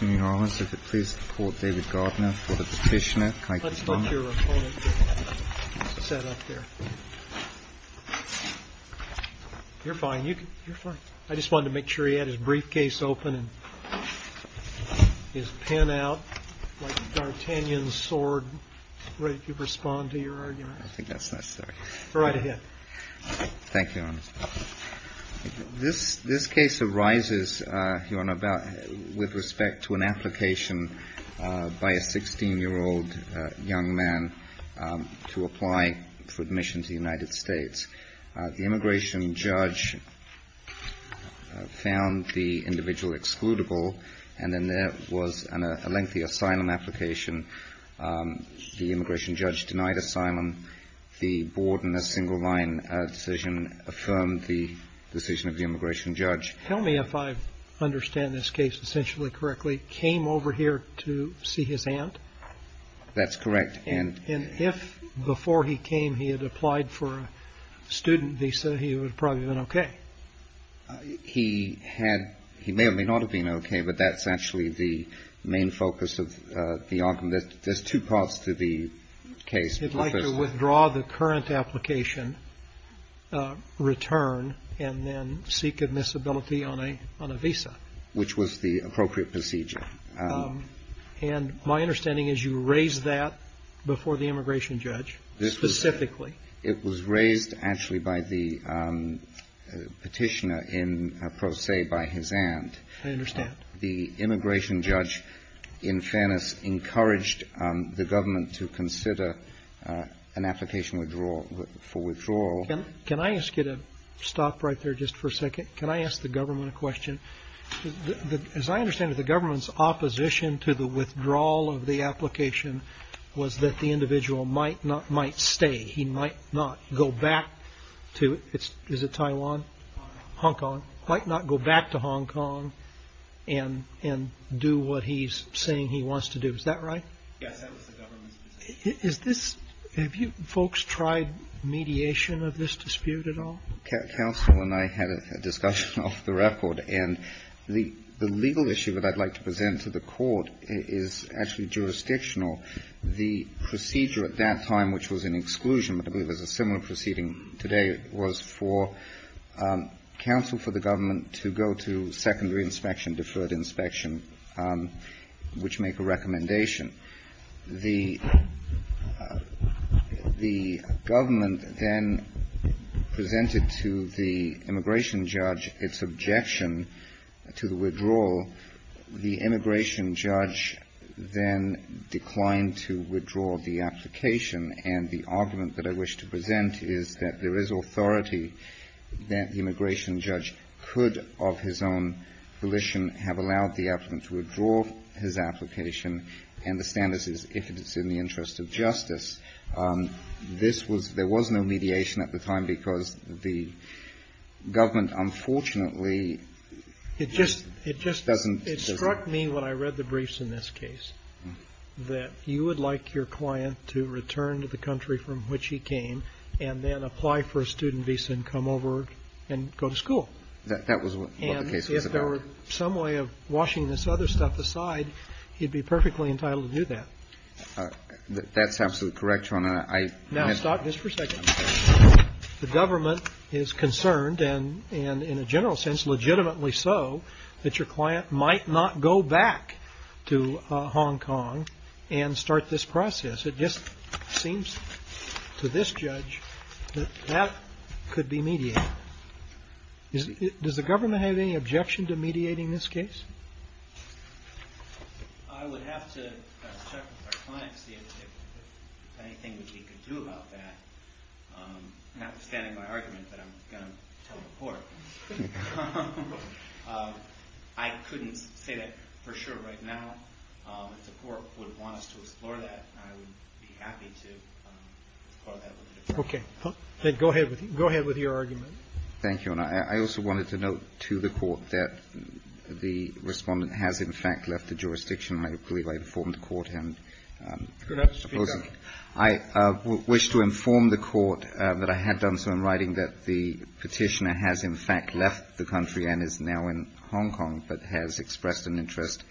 in New Orleans. If it pleases the Court, David Gardner for the petitioner, Kike Stoneman. Let's let your opponent sit up there. You're fine. You're fine. I just wanted to make sure he had his briefcase open and his pen out, like a D'Artagnan sword, ready to respond to your argument. I think that's necessary. Go right ahead. Thank you, Your Honor. This case arises with respect to an application by a 16-year-old young man to apply for admission to the United States. The immigration judge found the individual excludable, and then there was a lengthy asylum application. The immigration judge denied the asylum. The board, in a single-line decision, affirmed the decision of the immigration judge. Tell me if I understand this case essentially correctly. He came over here to see his aunt? That's correct. And if, before he came, he had applied for a student visa, he would have probably been okay? He may or may not have been okay, but that's actually the main focus of the argument. There's two parts to the case. He'd like to withdraw the current application, return, and then seek admissibility on a visa. Which was the appropriate procedure. And my understanding is you raised that before the immigration judge specifically. It was raised, actually, by the petitioner in Pro Se by his aunt. I understand. The immigration judge, in fairness, encouraged the government to consider an application for withdrawal. Can I ask you to stop right there just for a second? Can I ask the government a question? As I understand it, the government's opposition to the withdrawal of the application was that the individual might stay. He might not go back to, is it Taiwan? Hong Kong. Might not go back to Hong Kong and do what he's saying he wants to do. Is that right? Yes, that was the government's position. Is this, have you folks tried mediation of this dispute at all? Counsel and I had a discussion off the record. And the legal issue that I'd like to present to the court is actually jurisdictional. The procedure at that time, which was an exclusion, but I believe there's a similar proceeding today, was for counsel for the government to go to secondary inspection, deferred inspection, which make a recommendation. The government then presented to the immigration judge its objection to the withdrawal. The immigration judge then declined to withdraw the application. And the argument that I wish to present is that there is authority that the immigration judge could, of his own volition, have allowed the applicant to withdraw his application and the standards is if it's in the interest of justice. This was, there was no mediation at the time because the government unfortunately doesn't. It just, it struck me when I read the briefs in this case that you would like your client to return to the country from which he came and then apply for a student visa and come over and go to school. That was what the case was about. And if there were some way of washing this other stuff aside, he'd be perfectly entitled to do that. That's absolutely correct, Your Honor. Now stop this for a second. The government is concerned and in a general sense legitimately so that your client might not go back to Hong Kong and start this process. It just seems to this judge that that could be mediated. Does the government have any objection to mediating this case? I would have to check with our client to see if there's anything we can do about that. Notwithstanding my argument that I'm going to tell the court. I couldn't say that for sure right now. If the court would want us to explore that, I would be happy to. Okay. Then go ahead with your argument. Thank you, Your Honor. I also wanted to note to the court that the respondent has in fact left the jurisdiction. I believe I informed the court and I wish to inform the court that I had done so in writing that the petitioner has in fact left the country and is now in Hong Kong but has expressed an interest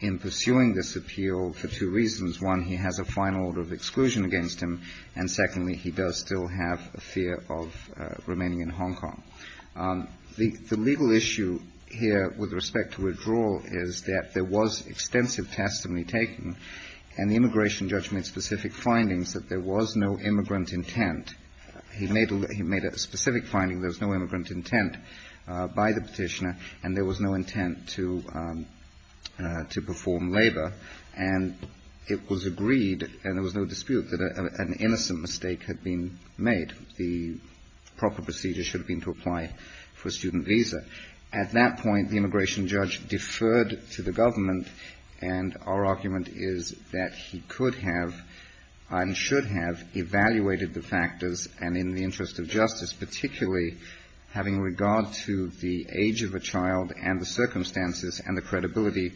in pursuing this appeal for two reasons. One, he has a final order of exclusion against him, and secondly, he does still have a fear of remaining in Hong Kong. The legal issue here with respect to withdrawal is that there was extensive testimony taken and the immigration judge made specific findings that there was no immigrant intent. He made a specific finding there was no immigrant intent by the petitioner and there was no intent to perform labor. And it was agreed and there was no dispute that an innocent mistake had been made. The proper procedure should have been to apply for a student visa. At that point, the immigration judge deferred to the government and our argument is that he could have and should have evaluated the factors and in the interest of justice, particularly having regard to the age of a child and the circumstances and the credibility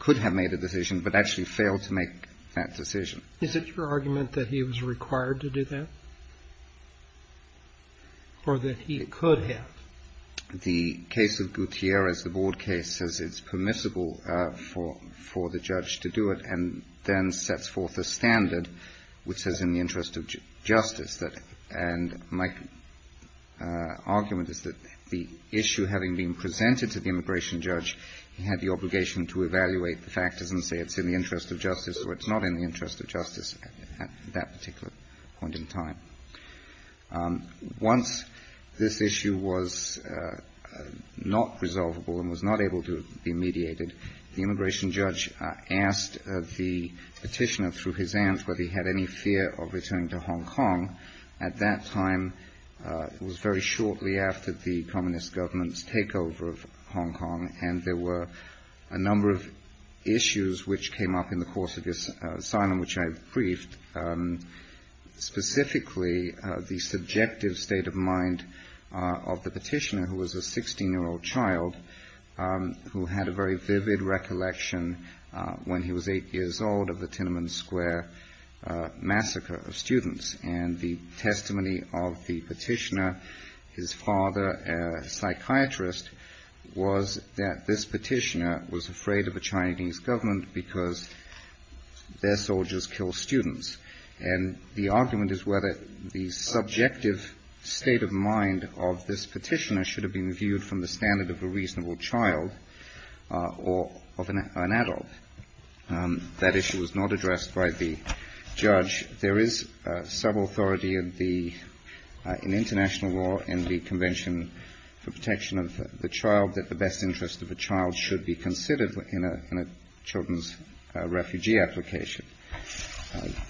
could have made a decision but actually failed to make that decision. Is it your argument that he was required to do that or that he could have? The case of Gutierrez, the board case, says it's permissible for the judge to do it and then sets forth a standard which says in the interest of justice that and my argument is that the issue having been presented to the immigration judge, he had the obligation to evaluate the factors and say it's in the interest of justice or it's not in the interest of justice at that particular point in time. Once this issue was not resolvable and was not able to be mediated, the immigration judge asked the petitioner through his aunt whether he had any fear of returning to Hong Kong. At that time, it was very shortly after the communist government's takeover of Hong Kong and there were a number of issues which came up in the course of this asylum which I've briefed, specifically the subjective state of mind of the petitioner who was a 16-year-old child who had a very vivid recollection when he was eight years old of the Tiananmen Square massacre of students. And the testimony of the petitioner, his father, a psychiatrist, was that this petitioner was afraid of a Chinese government because their soldiers kill students. And the argument is whether the subjective state of mind of this petitioner should have been viewed from the standard of a reasonable child or of an adult. That issue was not addressed by the judge. There is sub-authority in international law in the Convention for Protection of the Child that the best interest of a child should be considered in a children's refugee application.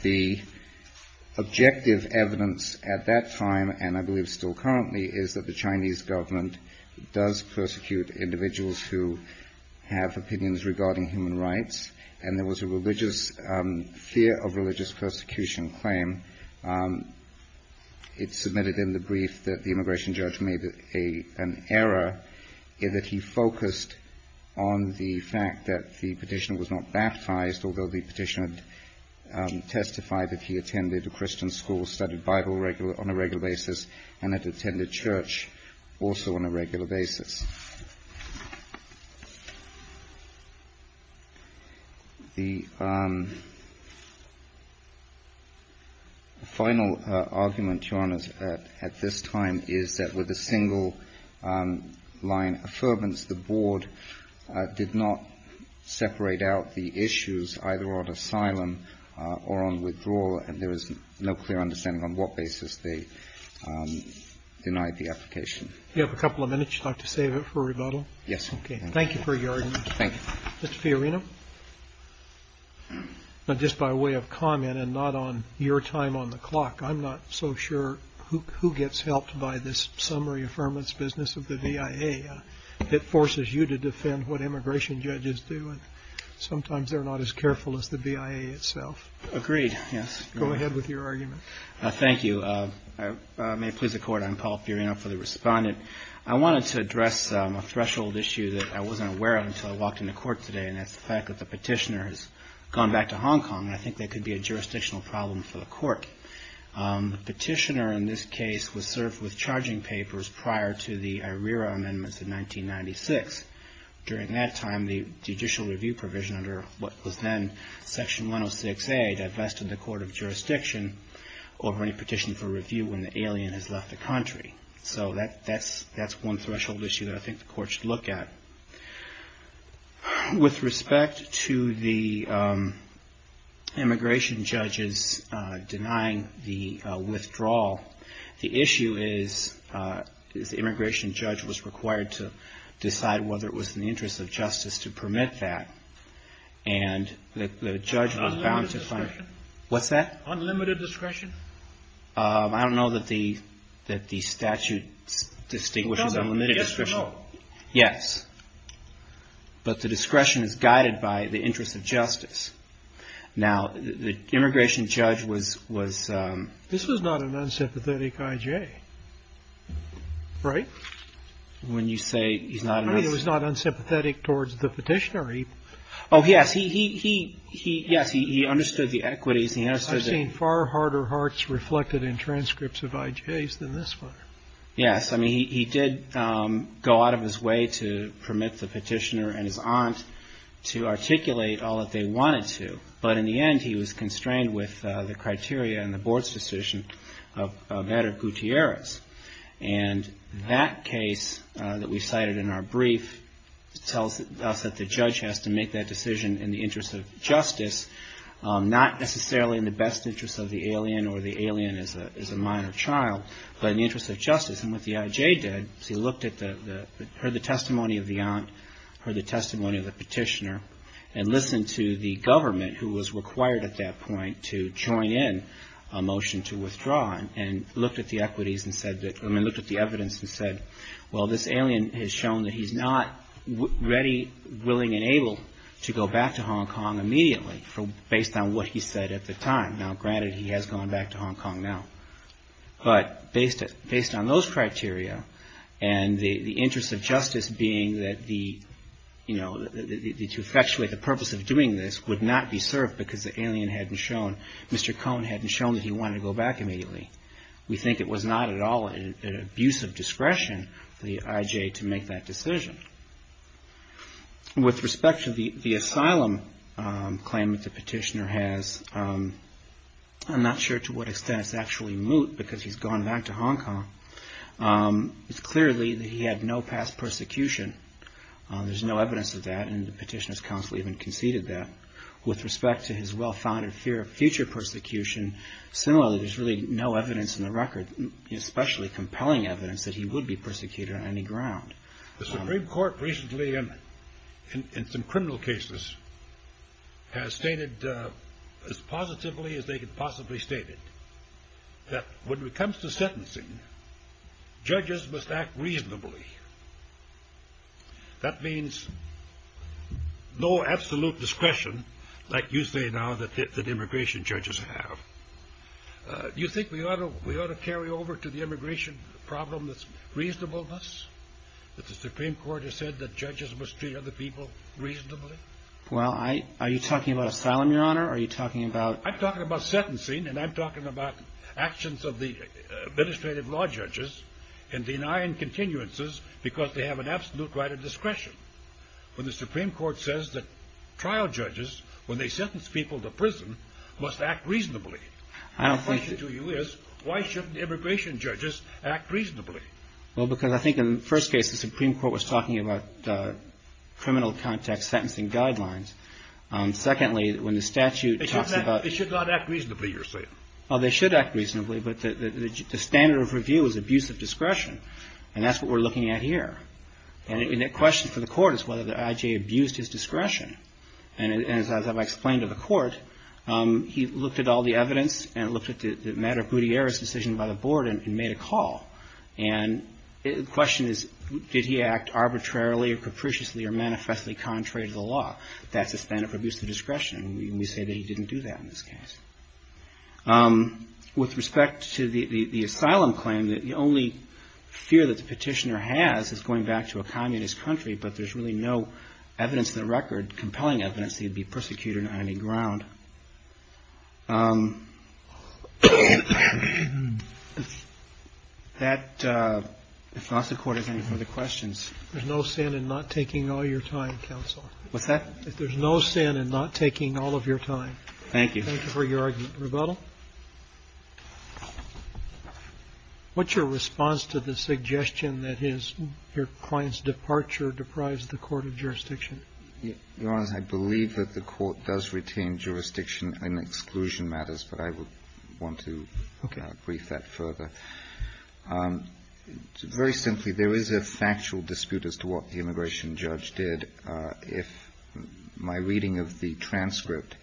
The objective evidence at that time, and I believe still currently, is that the Chinese government does persecute individuals who have opinions regarding human rights and there was a religious fear of religious persecution claim. It's submitted in the brief that the immigration judge made an error in that he focused on the fact that the petitioner was not baptized, although the petitioner testified that he was baptized, also on a regular basis. The final argument, Your Honors, at this time is that with a single line affirmance, the board did not separate out the issues either on asylum or on withdrawal, and there is no clear understanding on what basis they denied the application. You have a couple of minutes. Would you like to save it for rebuttal? Yes. Okay. Thank you for your argument. Thank you. Mr. Fiorino? Just by way of comment and not on your time on the clock, I'm not so sure who gets helped by this summary affirmance business of the BIA. It forces you to defend what immigration judges do, and sometimes they're not as careful as the BIA itself. Agreed. Yes. Go ahead with your argument. Thank you. May it please the Court, I'm Paul Fiorino for the Respondent. I wanted to address a threshold issue that I wasn't aware of until I walked into court today, and that's the fact that the petitioner has gone back to Hong Kong, and I think that could be a jurisdictional problem for the Court. The petitioner in this case was served with charging papers prior to the IRERA amendments in 1996. During that time, the judicial review provision under what was then Section 106A divested the Court of Jurisdiction over any petition for review when the alien has left the country. So, that's one threshold issue that I think the Court should look at. With respect to the immigration judges denying the withdrawal, the issue is the immigration judge was required to decide whether it was in the interest of justice to permit that, and the judge was bound to find... Unlimited discretion? What's that? Unlimited discretion? I don't know that the statute distinguishes unlimited discretion. Yes or no? Yes. But the discretion is guided by the interest of justice. Now, the immigration judge was... This was not an unsympathetic IJ, right? When you say he's not... I mean, it was not unsympathetic towards the petitioner. Oh, yes. He understood the equities. I've seen far harder hearts reflected in transcripts of IJs than this one. Yes. I mean, he did go out of his way to permit the petitioner and his aunt to articulate all that they wanted to, but in the end, he was constrained with the criteria and the board's decision of Adder Gutierrez. And that case that we cited in our brief tells us that the judge has to make that decision in the interest of justice, not necessarily in the best interest of the alien or the alien as a minor child, but in the interest of justice. And what the IJ did is he looked at the... Heard the testimony of the aunt, heard the testimony of the petitioner, and listened to the government, who was required at that point to join in a motion to withdraw, and looked at the equities and said that... I mean, looked at the evidence and said, well, this alien has shown that he's not ready, willing, and able to go back to Hong Kong immediately based on what he said at the time. Now, granted, he has gone back to Hong Kong now, but based on those criteria and the interest of justice being that the... You know, to effectuate the purpose of doing this would not be served because the alien hadn't shown, Mr. Cone hadn't shown that he wanted to go back immediately. We think it was not at all an abuse of discretion for the IJ to make that decision. With respect to the asylum claim that the petitioner has, I'm not sure to what extent it's actually moot because he's gone back to Hong Kong. It's clearly that he had no past persecution. There's no evidence of that, and the petitioner's counsel even conceded that. With respect to his well-founded fear of future persecution, similarly, there's really no evidence in the record, especially compelling evidence, that he would be persecuted on any ground. The Supreme Court recently, in some criminal cases, has stated as positively as they could possibly state it, that when it comes to sentencing, judges must act reasonably. That means no absolute discretion, like you say now, that immigration judges have. Do you think we ought to carry over to the immigration problem this reasonableness, that the Supreme Court has said that judges must treat other people reasonably? Well, are you talking about asylum, Your Honor, or are you talking about... I'm talking about sentencing, and I'm talking about actions of the administrative law judges in denying continuances because they have an absolute right of discretion, when the Supreme Court says that trial judges, when they sentence people to prison, must act reasonably. The question to you is, why shouldn't immigration judges act reasonably? Well, because I think in the first case, the Supreme Court was talking about criminal context sentencing guidelines. Secondly, when the statute talks about... It should not act reasonably, you're saying. Well, they should act reasonably, but the standard of review is abuse of discretion, and that's what we're looking at here. And the question for the Court is whether the I.J. abused his discretion. And as I've explained to the Court, he looked at all the evidence and looked at the matter of Gutierrez's decision by the Board and made a call. And the question is, did he act arbitrarily or capriciously or manifestly contrary to the law? That's a standard for abuse of discretion, and we say that he didn't do that in this case. With respect to the asylum claim, the only fear that the petitioner has is going back to a communist country, but there's really no evidence in the record, compelling evidence, that he'd be persecuted on any ground. That, if not, the Court has any further questions. There's no sin in not taking all your time, counsel. What's that? There's no sin in not taking all of your time. Thank you. Thank you for your argument. Rebuttal? What's your response to the suggestion that his or your client's departure deprives the court of jurisdiction? Your Honor, I believe that the Court does retain jurisdiction in exclusion matters, but I would want to brief that further. Very simply, there is a factual dispute as to what the immigration judge did. My reading of the transcript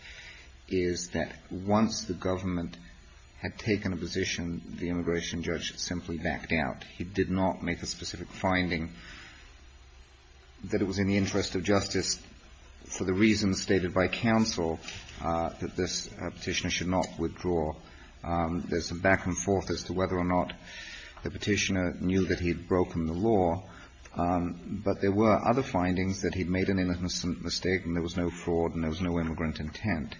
is that once the government had taken a position, the immigration judge simply backed out. He did not make a specific finding that it was in the interest of justice, for the reasons stated by counsel, that this petitioner should not withdraw. There's a back and forth as to whether or not the petitioner knew that he'd broken the law, but there were other findings that he'd made an innocent mistake and there was no fraud and there was no immigrant intent.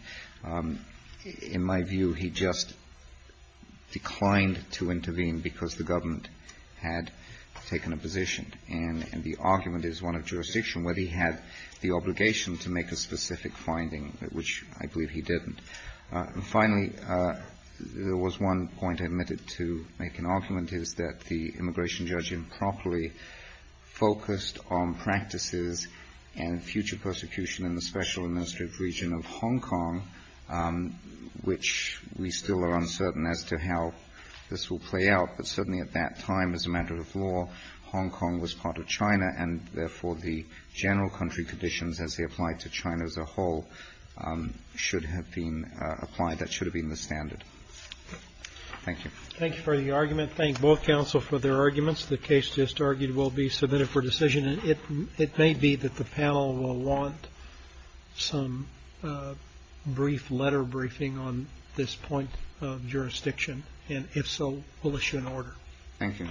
In my view, he just declined to intervene because the government had taken a position, and the argument is one of jurisdiction, whether he had the obligation to make a specific finding, which I believe he didn't. And finally, there was one point admitted to make an argument, is that the immigration judge improperly focused on practices and future persecution in the Special Administrative Region of Hong Kong, which we still are uncertain as to how this will play out. But certainly at that time, as a matter of law, Hong Kong was part of China, and therefore, the general country conditions as they applied to China as a whole should have been applied. That should have been the standard. Thank you. Thank you for the argument. Thank both counsel for their arguments. The case just argued will be submitted for decision, and it may be that the panel will want some brief letter briefing on this point of jurisdiction. And if so, we'll issue an order. Thank you.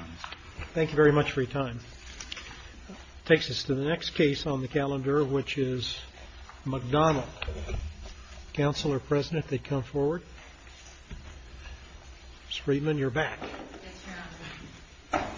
Thank you very much for your time. It takes us to the next case on the calendar, which is McDonald. Counselor, President, if they'd come forward. Ms. Friedman, you're back. Yes, Your Honor.